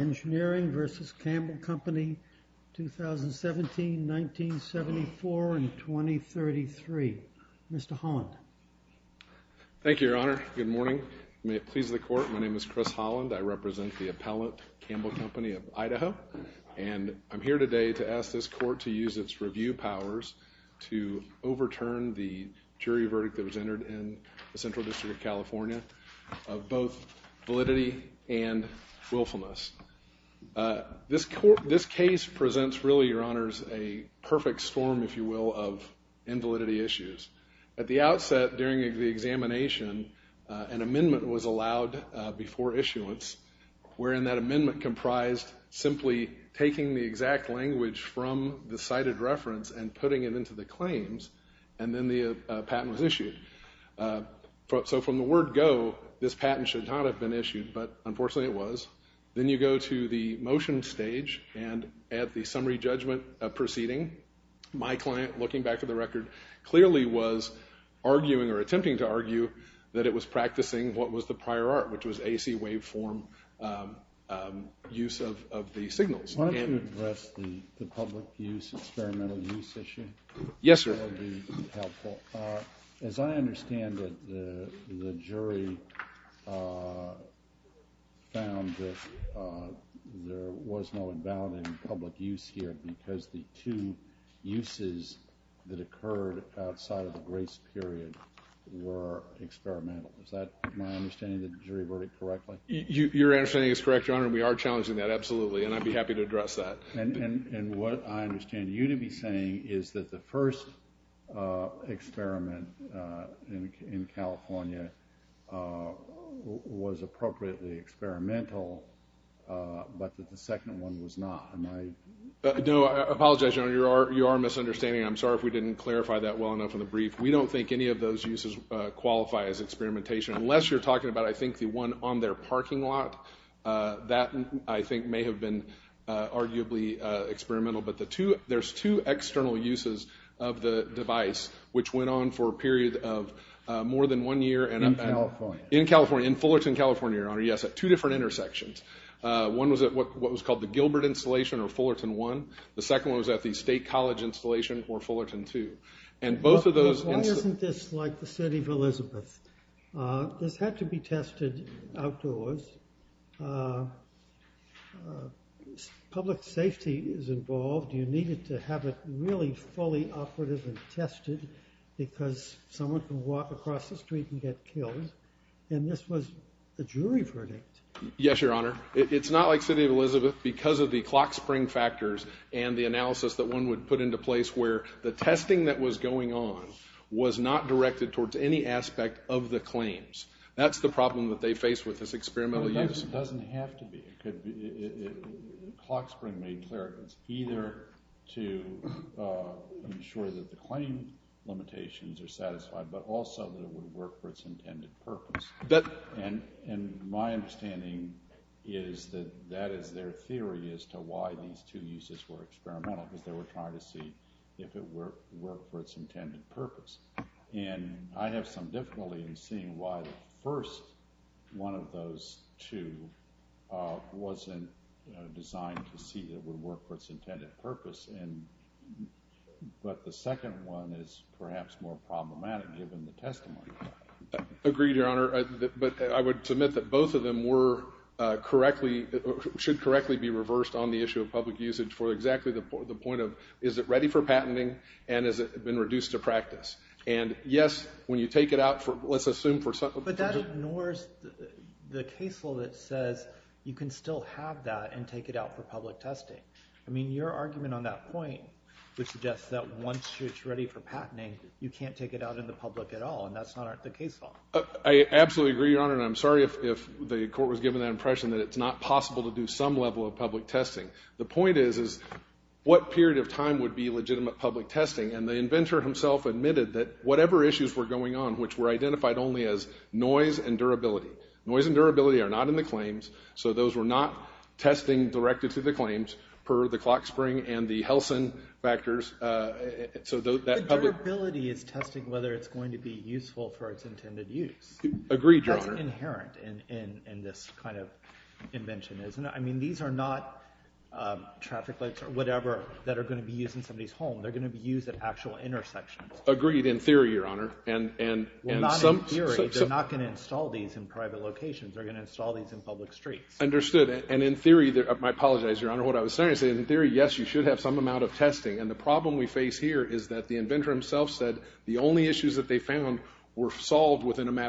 Engineering v. Campbell Company 2017, 1974, and 2033. Mr. Holland. Thank you, Your Honor. Good morning. May it please the court, my name is Chris Holland. I represent the appellant, Campbell Company of Idaho, and I'm here today to ask this court to use its review powers to overturn the jury verdict that was passed. This case presents, really, Your Honors, a perfect storm, if you will, of invalidity issues. At the outset, during the examination, an amendment was allowed before issuance wherein that amendment comprised simply taking the exact language from the cited reference and putting it into the claims, and then the patent was issued. So from the word go, this patent should not have been issued, but unfortunately it was. Then you go to the motion stage, and at the summary judgment proceeding, my client, looking back at the record, clearly was arguing or attempting to argue that it was practicing what was the prior art, which of the signals. Yes, sir. As I understand it, the jury found that there was no invalid in public use here because the two uses that occurred outside of the grace period were experimental. Is that my understanding of the jury verdict correctly? Your understanding is correct, Your Honor, and we are challenging that absolutely, and I'd be happy to address that. And what I understand you to be saying is that the first experiment in California was appropriately experimental, but that the second one was not. No, I apologize, Your Honor, you are misunderstanding. I'm sorry if we didn't clarify that well enough in the brief. We don't think any of those uses qualify as experimentation, unless you're talking about, I think, the one on their parking lot. That, I think, may have been arguably experimental, but there's two external uses of the device, which went on for a period of more than one year. In California? In California, in Fullerton, California, Your Honor, yes, at two different intersections. One was at what was called the Gilbert installation or Fullerton 1. The second one was at the State College installation or Fullerton 2. And both of those... Why isn't this like the tested outdoors? Public safety is involved. You needed to have it really fully operative and tested because someone can walk across the street and get killed, and this was a jury verdict. Yes, Your Honor. It's not like City of Elizabeth because of the clock spring factors and the analysis that one would put into place where the testing that was going on was not directed towards any aspect of the claims. That's the problem that they face with this experimental use. It doesn't have to be. Clock spring made clear it was either to ensure that the claim limitations are satisfied, but also that it would work for its intended purpose. And my understanding is that that is their theory as to why these two uses were experimental, because they were trying to see if it would work for its intended purpose. And I have some difficulty in seeing why the first one of those two wasn't designed to see it would work for its intended purpose, but the second one is perhaps more problematic given the testimony. Agreed, Your Honor, but I would submit that both of them were correctly... should correctly be reversed on the issue of public usage for exactly the point of, is it ready for patenting and has it been reduced to practice? And yes, when you take it out for, let's assume for... But that ignores the case law that says you can still have that and take it out for public testing. I mean, your argument on that point would suggest that once it's ready for patenting, you can't take it out in the public at all, and that's not the case law. I absolutely agree, Your Honor, and I'm sorry if the court was given that impression that it's not possible to do some level of public testing. The point is, is what period of time would be legitimate public testing? And the inventor himself admitted that whatever issues were going on, which were identified only as noise and durability, noise and durability are not in the claims, so those were not testing directed to the claims per the clock spring and the Helsin factors. So that durability is testing whether it's going to be useful for its intended use. Agreed, Your Honor. That's inherent in this kind of invention, isn't it? I mean, these are not traffic lights or whatever that are going to be used in somebody's home. They're going to be used at actual intersections. Agreed, in theory, Your Honor, and... Well, not in theory. They're not going to install these in private locations. They're going to install these in public streets. Understood, and in theory, I apologize, Your Honor, what I was saying is in theory, yes, you should have some amount of testing, and the problem we face here is that the inventor himself said the only issues that they have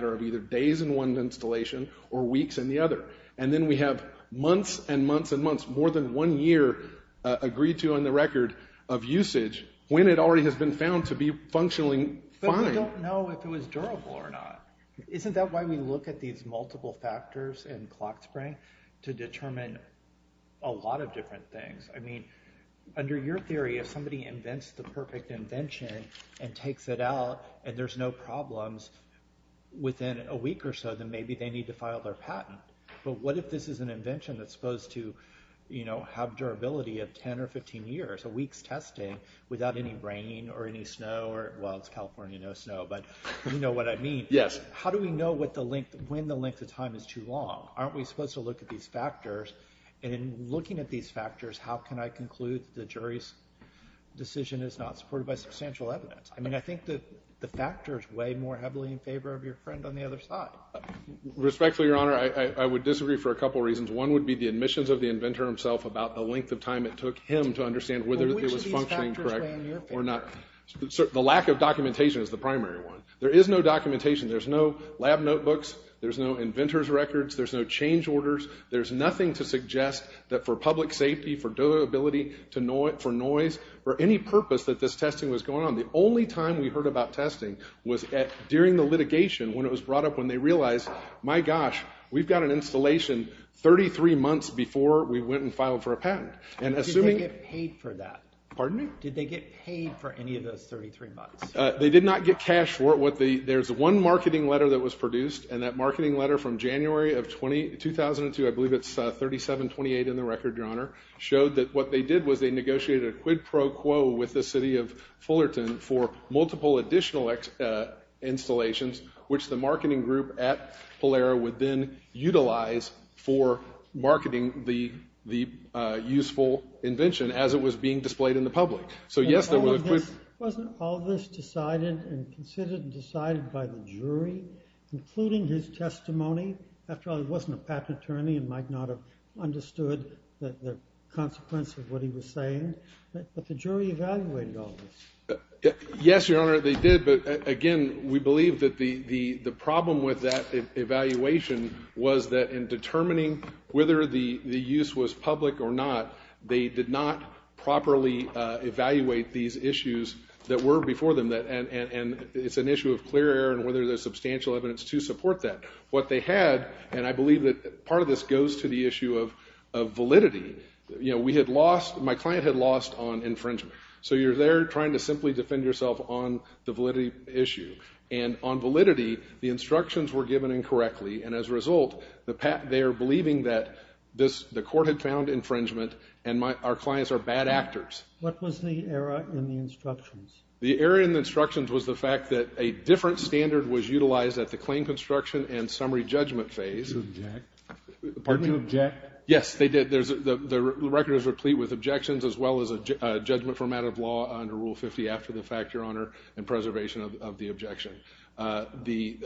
are days in one installation or weeks in the other, and then we have months and months and months, more than one year, agreed to on the record of usage when it already has been found to be functionally fine. But we don't know if it was durable or not. Isn't that why we look at these multiple factors and clock spring? To determine a lot of different things. I mean, under your theory, if somebody invents the perfect invention and takes it out, and there's no problems within a week or so, then maybe they need to file their patent. But what if this is an invention that's supposed to, you know, have durability of 10 or 15 years, a week's testing, without any rain or any snow, or well, it's California, no snow, but you know what I mean. Yes. How do we know when the length of time is too long? Aren't we supposed to look at these factors, and in looking at these I mean, I think that the factors weigh more heavily in favor of your friend on the other side. Respectfully, Your Honor, I would disagree for a couple reasons. One would be the admissions of the inventor himself about the length of time it took him to understand whether it was functioning correctly or not. The lack of documentation is the primary one. There is no documentation. There's no lab notebooks. There's no inventor's records. There's no change orders. There's nothing to suggest that for The only time we heard about testing was during the litigation when it was brought up when they realized, my gosh, we've got an installation 33 months before we went and filed for a patent. And assuming... Did they get paid for that? Pardon me? Did they get paid for any of those 33 months? They did not get cash for it. There's one marketing letter that was produced, and that marketing letter from January of 2002, I believe it's 3728 in the record, Your Honor, showed that what they did was they negotiated a quid pro quo with the city of Fullerton for multiple additional installations, which the marketing group at Polaro would then utilize for marketing the useful invention as it was being displayed in the public. So, yes, there were quid... Wasn't all this decided and considered and decided by the jury, including his testimony? After all, he wasn't a patent attorney and might not have understood the consequence of what he was saying. But the jury evaluated all this. Yes, Your Honor, they did, but again, we believe that the problem with that evaluation was that in determining whether the use was public or not, they did not properly evaluate these issues that were before them, and it's an issue of clear air and whether there's substantial evidence to support that. What they had, and I believe that part of this goes to the issue of validity. You know, we had lost, my client had lost on infringement, so you're there trying to simply defend yourself on the validity issue, and on validity, the instructions were given incorrectly, and as a result, they're believing that the court had found infringement and our clients are bad actors. What was the error in the instructions? The error in the instructions was the fact that a different standard was utilized at the claim construction and summary judgment phase. Did they object? Yes, they did. The record is replete with objections as well as a judgment format of law under Rule 50 after the fact, Your Honor, and preservation of the objection. The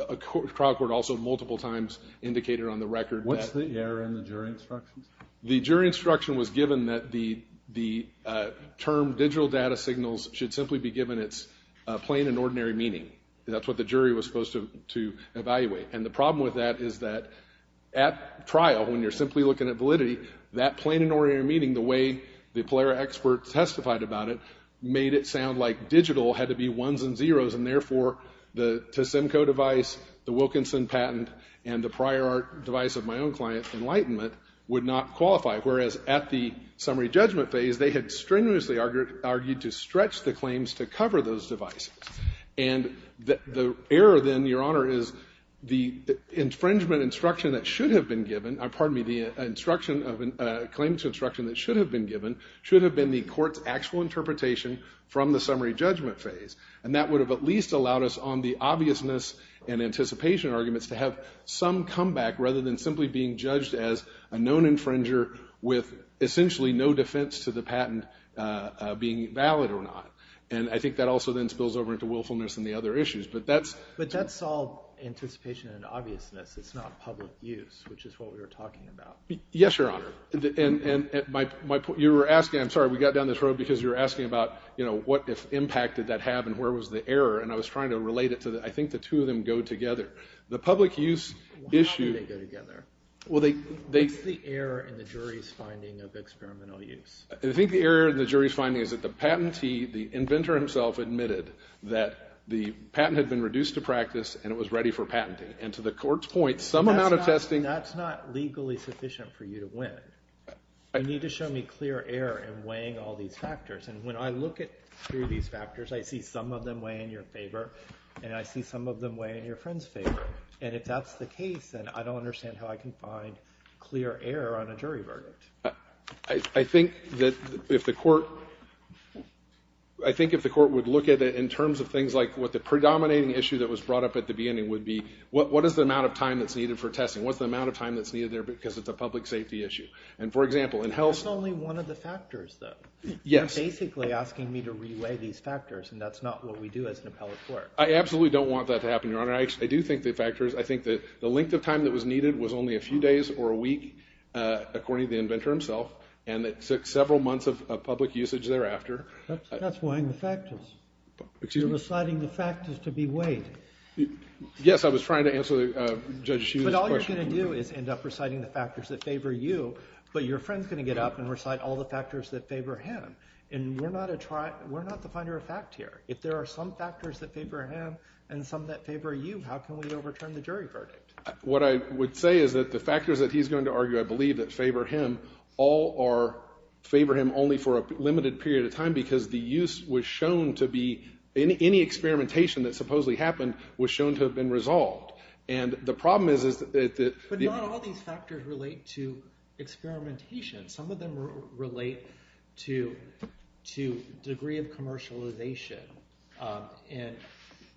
trial court also multiple times indicated on the record that... What's the error in the jury instructions? The jury instruction was given that the term digital data signals should simply be given its plain and ordinary meaning. That's what the jury was supposed to evaluate, and the problem with that is that at trial, when you're simply looking at validity, that plain and ordinary meaning, the way the Polara expert testified about it, made it sound like digital had to be ones and zeros, and therefore, the Tosemco device, the Wilkinson patent, and the Prior Art device of my own client, Enlightenment, would not qualify, whereas at the summary judgment phase, they had strenuously argued to stretch the claims to cover those devices, and the error then, Your Honor, is the infringement instruction that should have been given, or pardon me, the instruction of a claim to instruction that should have been given, should have been the court's actual interpretation from the summary judgment phase, and that would have at least allowed us on the obviousness and anticipation arguments to have some comeback rather than simply being judged as a known infringer with essentially no defense to the patent being valid or not, and I think that also then spills over into willfulness and the other issues, but that's... But that's all anticipation and obviousness, it's not public use, which is what we were talking about. Yes, Your Honor, and you were asking, I'm sorry, we got down this road because you were asking about, you know, what impact did that have and where was the error, and I was trying to relate it to that. I think the two of them go together. The public use issue... How do they go together? What's the error in the jury's finding of experimental use? I think the error in the jury's finding is that the patentee, the inventor himself, admitted that the patent had been reduced to practice and it was ready for patenting, and to the court's point, some amount of testing... That's not legally sufficient for you to win. You need to show me clear error in weighing all these factors, and when I look at through these factors, I see some of them weigh in your favor, and I see some of them weigh in your friend's favor, and if that's the case, then I don't understand how I can find clear error on a jury verdict. I think that if the court... I think if the court would look at it in terms of things like what the predominating issue that was brought up at the beginning would be, what is the amount of time that's needed for testing? What's the amount of time that's needed there because it's a public safety issue? And for example, in health... That's only one of the factors, though. Yes. You're basically asking me to relay these factors, and that's not what we do as an appellate court. I absolutely don't want that to happen, Your Honor. I do think the factors... I think that the length of time that was needed was only a few days or a week, according to the inventor himself, and it took several months of public Yes, I was trying to answer Judge Hsu's question. But all you're going to do is end up reciting the factors that favor you, but your friend's going to get up and recite all the factors that favor him, and we're not a... we're not the finder of fact here. If there are some factors that favor him and some that favor you, how can we overturn the jury verdict? What I would say is that the factors that he's going to argue, I believe, that favor him all are... favor him only for a limited period of time because the use was shown to be... any experimentation that was shown to have been resolved, and the problem is that... But not all these factors relate to experimentation. Some of them relate to degree of commercialization and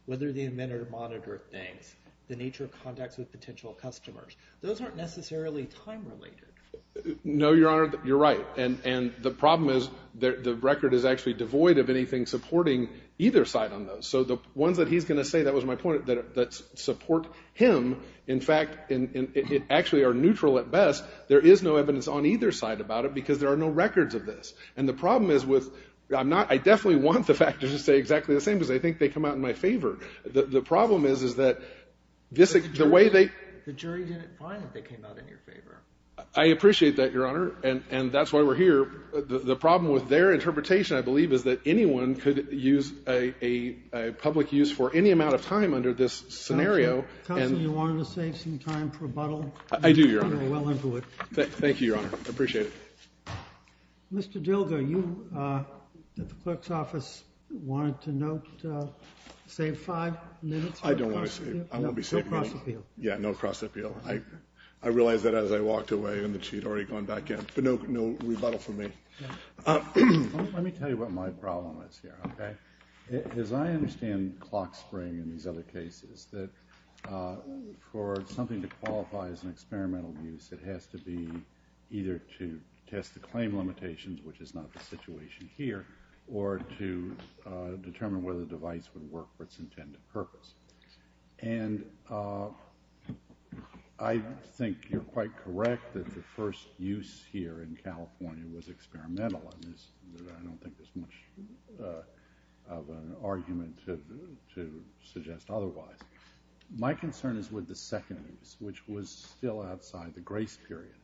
whether the inventor monitored things, the nature of contacts with potential customers. Those aren't necessarily time-related. No, Your Honor, you're right, and the problem is the record is actually devoid of anything supporting either side on those. So the ones that he's going to say, that was my point, that support him, in fact, and it actually are neutral at best, there is no evidence on either side about it because there are no records of this, and the problem is with... I'm not... I definitely want the factors to stay exactly the same because I think they come out in my favor. The problem is is that this is the way they... I appreciate that, Your Honor, and that's why we're here. The problem with their interpretation, I believe, is that anyone could use a public use for any amount of time under this scenario. Counselor, you want to save some time for rebuttal? I do, Your Honor. You're well into it. Thank you, Your Honor. I appreciate it. Mr. Dilger, you at the clerk's office wanted to note, save five minutes for the cross-appeal? I don't want to save... I won't be saving... No cross-appeal. Yeah, no cross-appeal. I realized that as I walked away and that she'd already gone back in, but no rebuttal from me. Let me tell you what my problem is here, okay? As I understand clock spring in these other cases, that for something to qualify as an experimental use, it has to be either to test the claim limitations, which is not the situation here, or to determine whether the device would work for its intended purpose. And I think you're quite correct that the first use here in suggest otherwise. My concern is with the second use, which was still outside the grace period,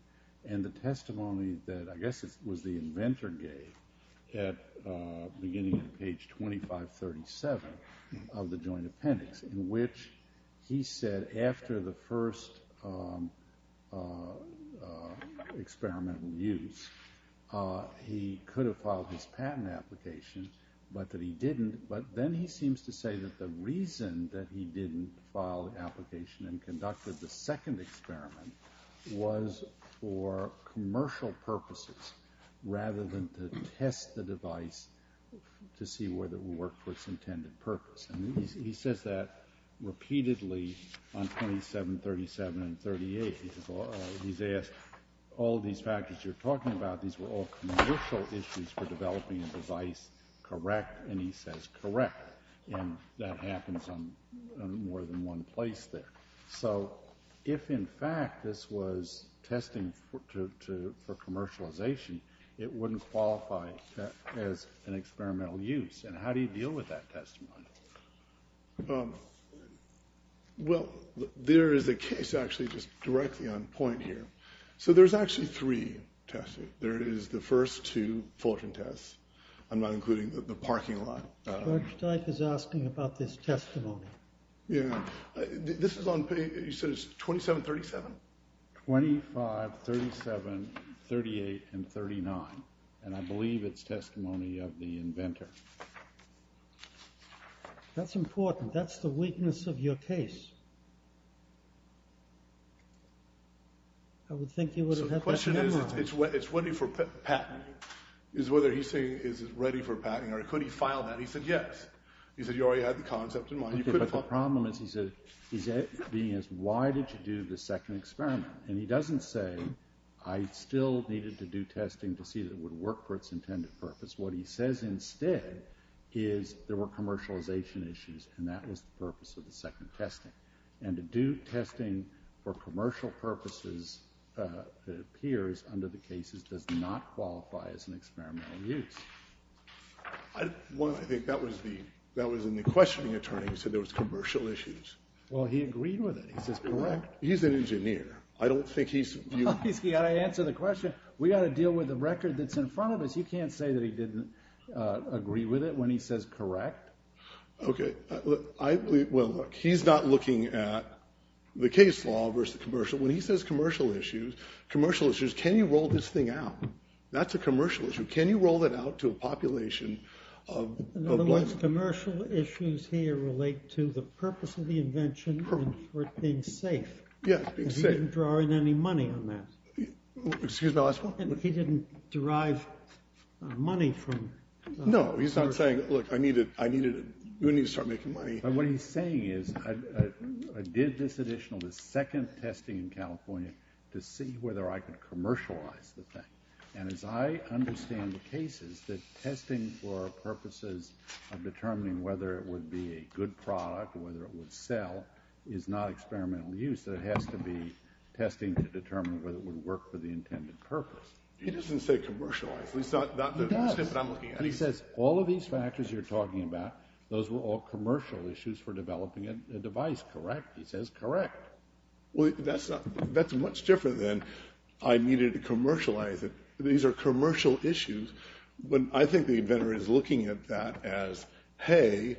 and the testimony that I guess it was the inventor gave at beginning of page 2537 of the joint appendix, in which he said after the first experimental use, he could have filed his patent application, but that he seems to say that the reason that he didn't file the application and conducted the second experiment was for commercial purposes, rather than to test the device to see whether it would work for its intended purpose. And he says that repeatedly on 2737 and 38. He's asked all these factors you're talking about, these were all commercial issues for developing a device, correct? And he says correct. And that happens on more than one place there. So if in fact this was testing for commercialization, it wouldn't qualify as an experimental use. And how do you deal with that testimony? Well, there is a case actually just directly on point here. So there's actually three tests. There is the first two Fulton tests, I'm not including the parking lot. George Dyke is asking about this testimony. Yeah, this is on page, he says 2737? 25, 37, 38, and 39. And I believe it's testimony of the inventor. That's important. That's the weakness of your case. I would think you would have had that in mind. So the question is, it's ready for patent. It's whether he's saying it's ready for patent, or could he file that? He said yes. He said you already had the concept in mind. But the problem is, he said, why did you do the second experiment? And he doesn't say, I still needed to do testing to see that it would work for its intended purpose. What he says instead is there were commercialization issues, and that was the purpose of the second testing. And to do testing for commercial purposes that appears under the cases does not qualify as an experimental use. Well, I think that was in the questioning attorney, he said there was commercial issues. Well, he agreed with it. He says correct. He's an engineer. I don't think he's... He's got to answer the question. We've got to deal with the record that's in front of us. You can't say that he didn't agree with it when he says correct. Okay. Well, look, he's not looking at the case law versus commercial. When he says commercial issues, commercial issues, can you roll this thing out? That's a commercial issue. Can you roll it out to a population of... In other words, commercial issues here relate to the purpose of the invention and for it being safe. Yeah, being safe. And he didn't draw in any money on that. Excuse my last one? And he didn't derive money from... No, he's not saying, look, I needed... we need to start making money. But what he's saying is I did this additional, this second testing in California to see whether I could commercialize the thing. And as I understand the cases, the testing for purposes of determining whether it would be a good product, whether it would sell, is not experimental use. It has to be testing to determine whether it would work for the intended purpose. He doesn't say commercialize. He's not... He does. And he says all of these factors you're talking about, those were all commercial issues for developing a device, correct? He says correct. Well, that's not... that's much different than I needed to commercialize it. These are commercial issues. But I think the inventor is looking at that as, hey,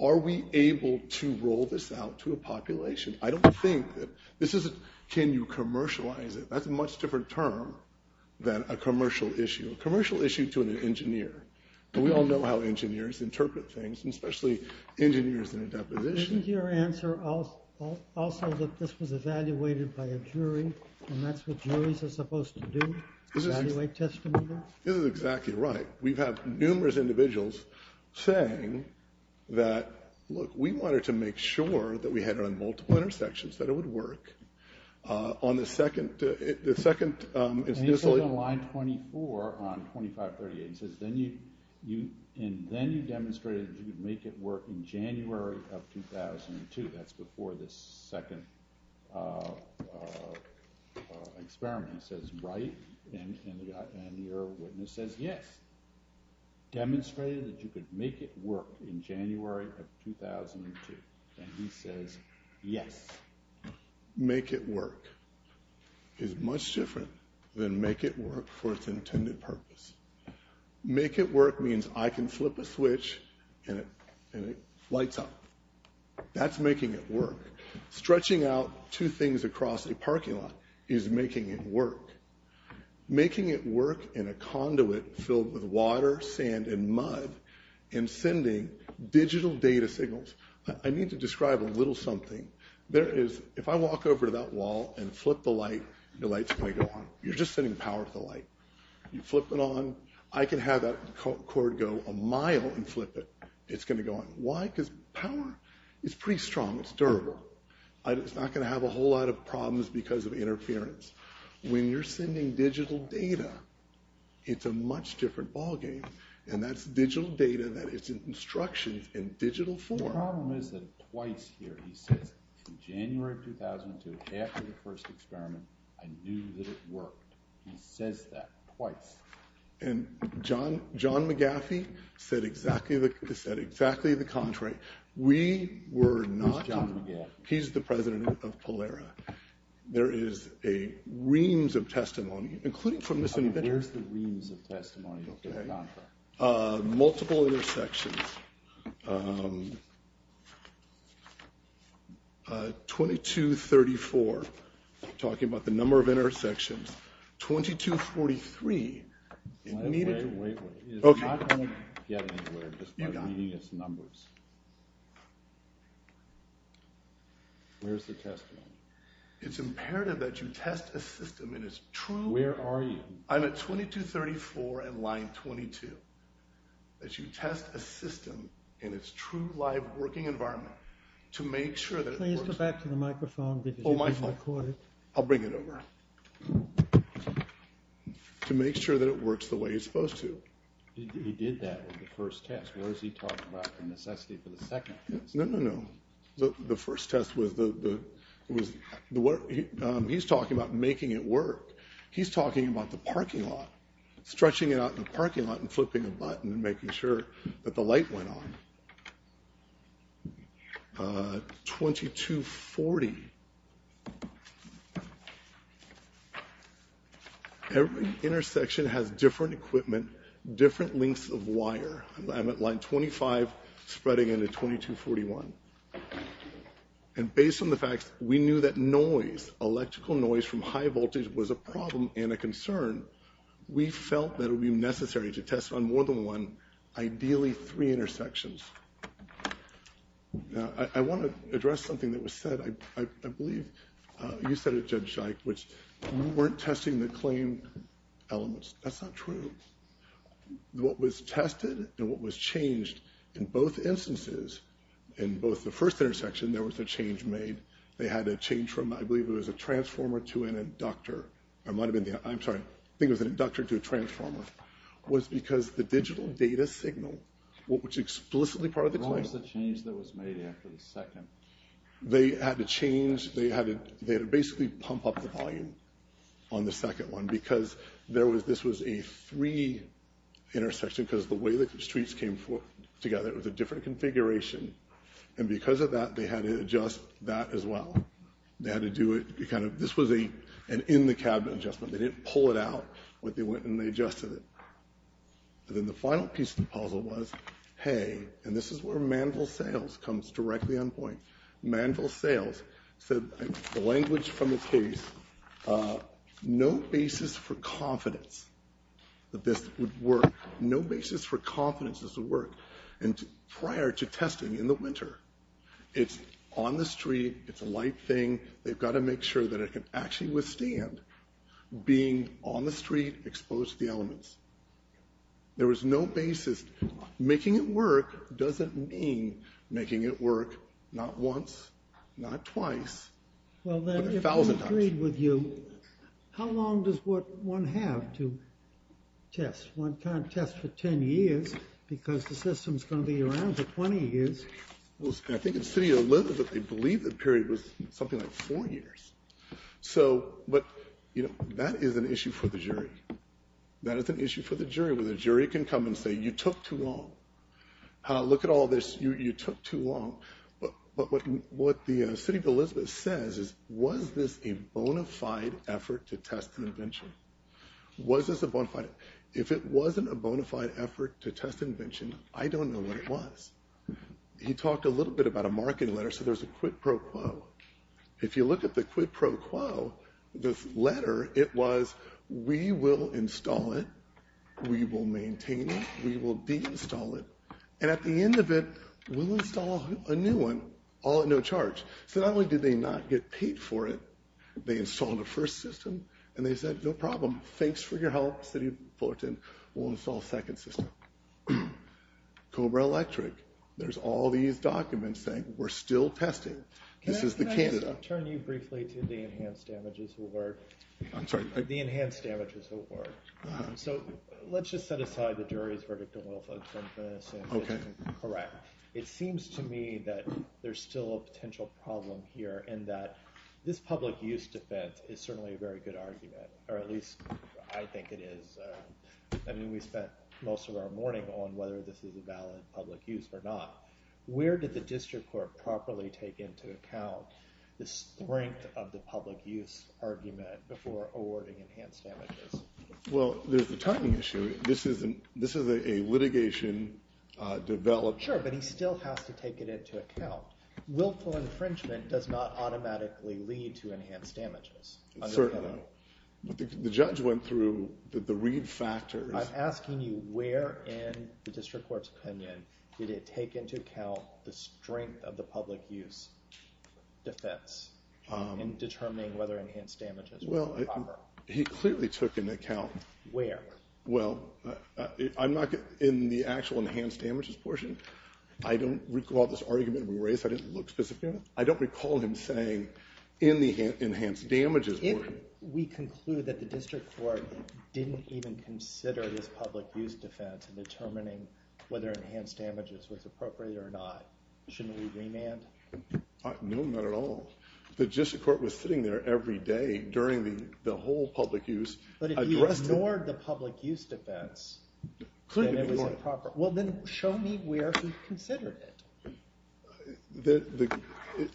are we able to roll this out to a population? I don't think that... this isn't, can you commercialize it? That's a much different term than a commercial issue. A commercial issue to an engineer. And we all know how engineers interpret things, and especially engineers in a deposition. Isn't your answer also that this was evaluated by a jury, and that's what juries are supposed to do, evaluate testimony? This is exactly right. We've had numerous individuals saying that, look, we wanted to make sure that we had it on multiple intersections, that it would work. On the second... And he says on line 24 on 2538, he says, and then you demonstrated that you could make it work in January of 2002. That's before this second experiment. He says, right, and your witness says, yes. Demonstrated that you could make it work in January of 2002. And he says, yes. Make it work is much different than make it work for its intended purpose. Make it work means I can flip a switch and it lights up. That's making it work. Stretching out two things across a parking lot is making it work. Making it work in a conduit filled with water, sand, and mud, and sending digital data signals. I need to describe a little something. There is, if I walk over to that wall and flip the light, the light's going to go on. You're just sending power to the light. You flip it on. I can have that cord go a mile and flip it. It's going to go on. Why? Because power is pretty strong. It's durable. It's not going to have a whole lot of problems because of interference. When you're sending digital data, it's a much different ballgame. And that's digital data. That is instructions in digital form. The problem is that twice here he says, in January of 2002, after the first experiment, I knew that it worked. He says that twice. And John McGaffey said exactly the contrary. We were not. Who's John McGaffey? He's the president of Polaro. There is a reams of testimony, including from this inventor. Where's the reams of testimony? Multiple intersections. 2234, talking about the number of intersections. 2243. It's not going to get anywhere just by reading its numbers. Where's the testimony? It's imperative that you test a system and it's true. So where are you? I'm at 2234 and line 22. That you test a system in its true live working environment to make sure that it works. Please go back to the microphone because you've been recorded. Oh, my fault. I'll bring it over. To make sure that it works the way it's supposed to. He did that with the first test. What is he talking about, the necessity for the second test? No, no, no. The first test was the work. He's talking about making it work. He's talking about the parking lot. Stretching it out in the parking lot and flipping a button and making sure that the light went on. 2240. Every intersection has different equipment, different lengths of wire. I'm at line 25 spreading into 2241. And based on the facts, we knew that noise, electrical noise from high voltage was a problem and a concern. We felt that it would be necessary to test on more than one, ideally three intersections. Now, I want to address something that was said. I believe you said it, Judge Scheich, which you weren't testing the claim elements. That's not true. What was tested and what was changed in both instances, in both the first intersection, there was a change made. They had a change from, I believe it was a transformer to an inductor. I'm sorry. I think it was an inductor to a transformer. It was because the digital data signal, which is explicitly part of the claim. What was the change that was made after the second? They had to change. They had to basically pump up the volume on the second one because this was a three intersection because of the way the streets came together. It was a different configuration. And because of that, they had to adjust that as well. They had to do it. This was an in-the-cabinet adjustment. They didn't pull it out, but they went and they adjusted it. And then the final piece of the puzzle was, hey, and this is where Manville Sales comes directly on point. Manville Sales said, the language from the case, no basis for confidence that this would work. No basis for confidence this would work. And prior to testing in the winter, it's on the street. It's a light thing. They've got to make sure that it can actually withstand being on the street exposed to the elements. There was no basis. Making it work doesn't mean making it work not once, not twice, but a thousand times. Well, then, if I agreed with you, how long does one have to test? One can't test for 10 years because the system's going to be around for 20 years. I think in the city of Linlith, they believe the period was something like four years. But that is an issue for the jury. That is an issue for the jury, where the jury can come and say, you took too long. Look at all this. You took too long. But what the city of Elizabeth says is, was this a bona fide effort to test an invention? Was this a bona fide? If it wasn't a bona fide effort to test an invention, I don't know what it was. He talked a little bit about a marketing letter. So there's a quid pro quo. If you look at the quid pro quo, this letter, it was, we will install it. We will maintain it. We will de-install it. And at the end of it, we'll install a new one, all at no charge. So not only did they not get paid for it, they installed a first system, and they said, no problem. Thanks for your help, city of Fullerton. We'll install a second system. Cobra Electric, there's all these documents saying, we're still testing. This is the Canada. Can I just turn you briefly to the enhanced damages award? I'm sorry. The enhanced damages award. So let's just set aside the jury's verdict on Wilfred's sentence and correct. It seems to me that there's still a potential problem here in that this public use defense is certainly a very good argument. Or at least I think it is. I mean, we spent most of our morning on whether this is a valid public use or not. Where did the district court properly take into account the strength of the public use argument before awarding enhanced damages? Well, there's the timing issue. This is a litigation development. Sure, but he still has to take it into account. Willful infringement does not automatically lead to enhanced damages. Certainly. But the judge went through the read factors. I'm asking you, where in the district court's opinion did it take into account the strength of the public use defense in determining whether enhanced damages were proper? He clearly took into account. Where? Well, I'm not in the actual enhanced damages portion. I don't recall this argument we raised. I didn't look specifically at it. I don't recall him saying in the enhanced damages board. We conclude that the district court didn't even consider this public use defense in determining whether enhanced damages was appropriate or not. Shouldn't we remand? No, not at all. The district court was sitting there every day during the whole public use. But if he ignored the public use defense, then it was improper. Well, then show me where he considered it.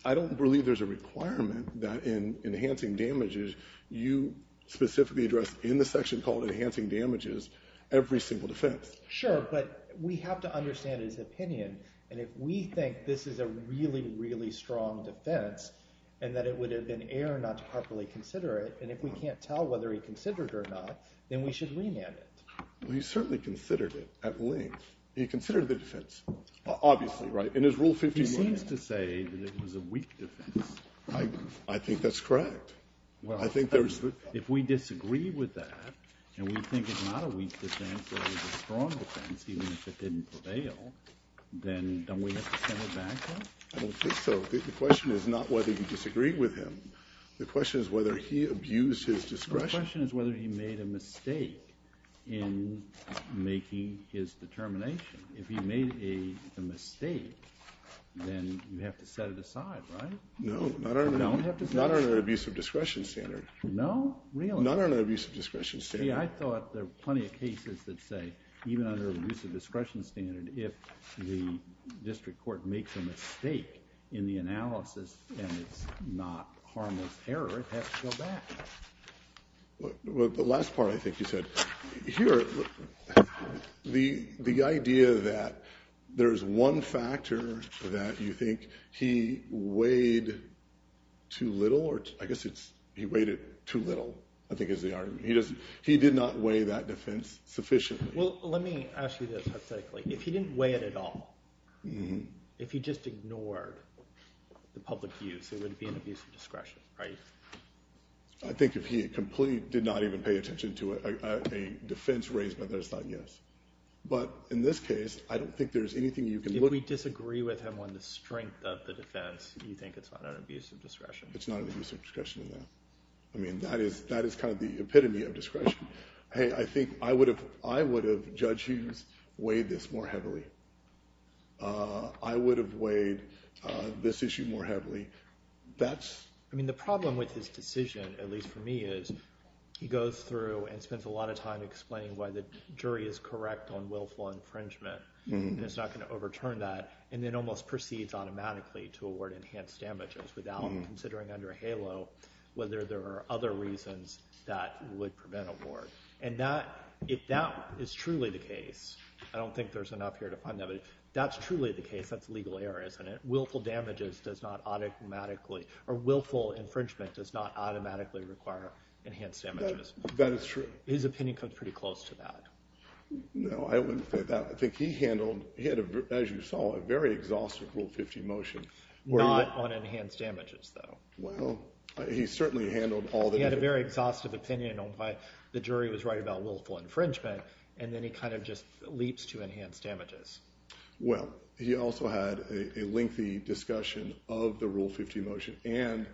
I don't believe there's a requirement that in enhancing damages you specifically address in the section called enhancing damages every single defense. Sure, but we have to understand his opinion. And if we think this is a really, really strong defense and that it would have been error not to properly consider it, and if we can't tell whether he considered it or not, then we should remand it. Well, he certainly considered it at length. He considered the defense. Obviously, right? In his rule 51. He seems to say that it was a weak defense. I think that's correct. Well, if we disagree with that and we think it's not a weak defense or a strong offense, even if it didn't prevail, then don't we have to send it back? I don't think so. The question is not whether you disagreed with him. The question is whether he abused his discretion. The question is whether he made a mistake in making his determination. If he made a mistake, then you have to set it aside, right? No, not under an abuse of discretion standard. No? Really? Not under an abuse of discretion standard. See, I thought there were plenty of cases that say even under an abuse of discretion standard, if the district court makes a mistake in the analysis and it's not harmless error, it has to go back. The last part I think you said. Here, the idea that there's one factor that you think he weighed too little. I guess it's he weighed it too little, I think is the argument. He did not weigh that defense sufficiently. Well, let me ask you this hypothetically. If he didn't weigh it at all, if he just ignored the public views, it would be an abuse of discretion, right? I think if he completely did not even pay attention to it, a defense raised by that is not yes. But in this case, I don't think there's anything you can look at. If we disagree with him on the strength of the defense, do you think it's not an abuse of discretion? It's not an abuse of discretion in that. I mean, that is kind of the epitome of discretion. Hey, I think I would have, Judge Hughes, weighed this more heavily. I would have weighed this issue more heavily. I mean, the problem with his decision, at least for me, is he goes through and spends a lot of time explaining why the jury is correct on willful infringement. And it's not going to overturn that. And then almost proceeds automatically to award enhanced damages without considering under HALO whether there are other reasons that would prevent award. And if that is truly the case, I don't think there's enough here to find that, but if that's truly the case, that's legal error, isn't it? Willful infringement does not automatically require enhanced damages. That is true. His opinion comes pretty close to that. No, I wouldn't say that. I think he handled, as you saw, a very exhaustive Rule 50 motion. Not on enhanced damages, though. Well, he certainly handled all the— He had a very exhaustive opinion on why the jury was right about willful infringement. And then he kind of just leaps to enhanced damages. Well, he also had a lengthy discussion of the Rule 50 motion and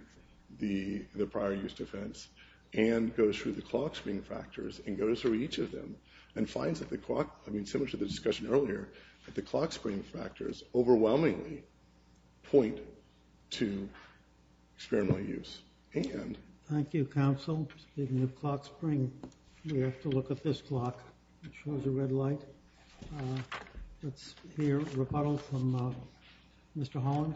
the prior use defense and goes through the clock spring factors and goes through each of them and finds that the clock— I mean, similar to the discussion earlier, that the clock spring factors overwhelmingly point to experimental use. And— Thank you, counsel. Speaking of clock spring, we have to look at this clock. It shows a red light. Let's hear a rebuttal from Mr. Holland.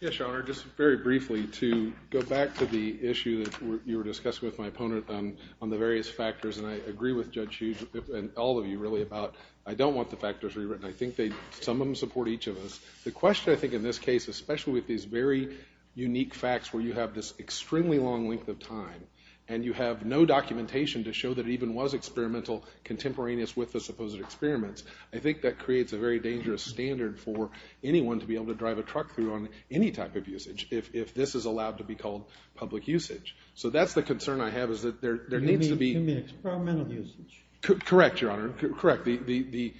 Yes, Your Honor. Just very briefly, to go back to the issue that you were discussing with my opponent on the various factors, and I agree with Judge Hughes and all of you, really, about I don't want the factors rewritten. I think some of them support each of us. The question, I think, in this case, especially with these very unique facts where you have this extremely long length of time and you have no documentation to show that it even was experimental contemporaneous with the supposed experiments, I think that creates a very dangerous standard for anyone to be able to drive a truck through on any type of usage if this is allowed to be called public usage. So that's the concern I have is that there needs to be— You mean experimental usage? Correct, Your Honor. Correct. The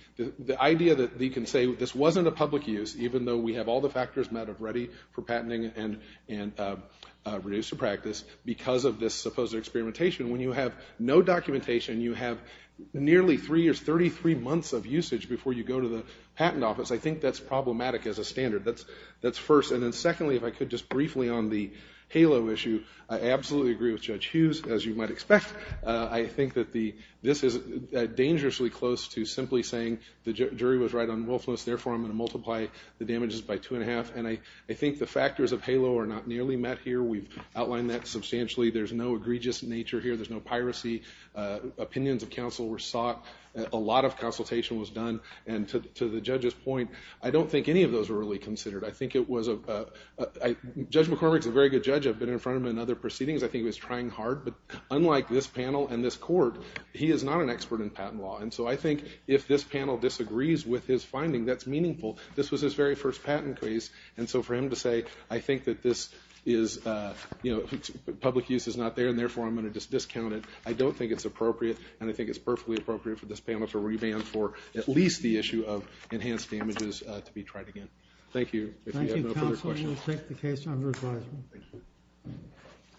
idea that you can say this wasn't a public use, even though we have all the factors met of ready for patenting and reduced to practice, because of this supposed experimentation, when you have no documentation, you have nearly three years, 33 months of usage before you go to the patent office, I think that's problematic as a standard. That's first. And then secondly, if I could just briefly on the HALO issue, I absolutely agree with Judge Hughes, as you might expect. I think that this is dangerously close to simply saying the jury was right on willfulness, therefore I'm going to multiply the damages by two and a half. And I think the factors of HALO are not nearly met here. We've outlined that substantially. There's no egregious nature here. There's no piracy. Opinions of counsel were sought. A lot of consultation was done. And to the judge's point, I don't think any of those were really considered. I think it was—Judge McCormick's a very good judge. I've been in front of him in other proceedings. I think he was trying hard. But unlike this panel and this court, he is not an expert in patent law. And so I think if this panel disagrees with his finding, that's meaningful. This was his very first patent case. And so for him to say, I think that this is—public use is not there, and therefore I'm going to just discount it, I don't think it's appropriate. And I think it's perfectly appropriate for this panel to revamp for at least the issue of enhanced damages to be tried again. If you have no further questions. Thank you, counsel. We'll take the case under advisement. Thank you.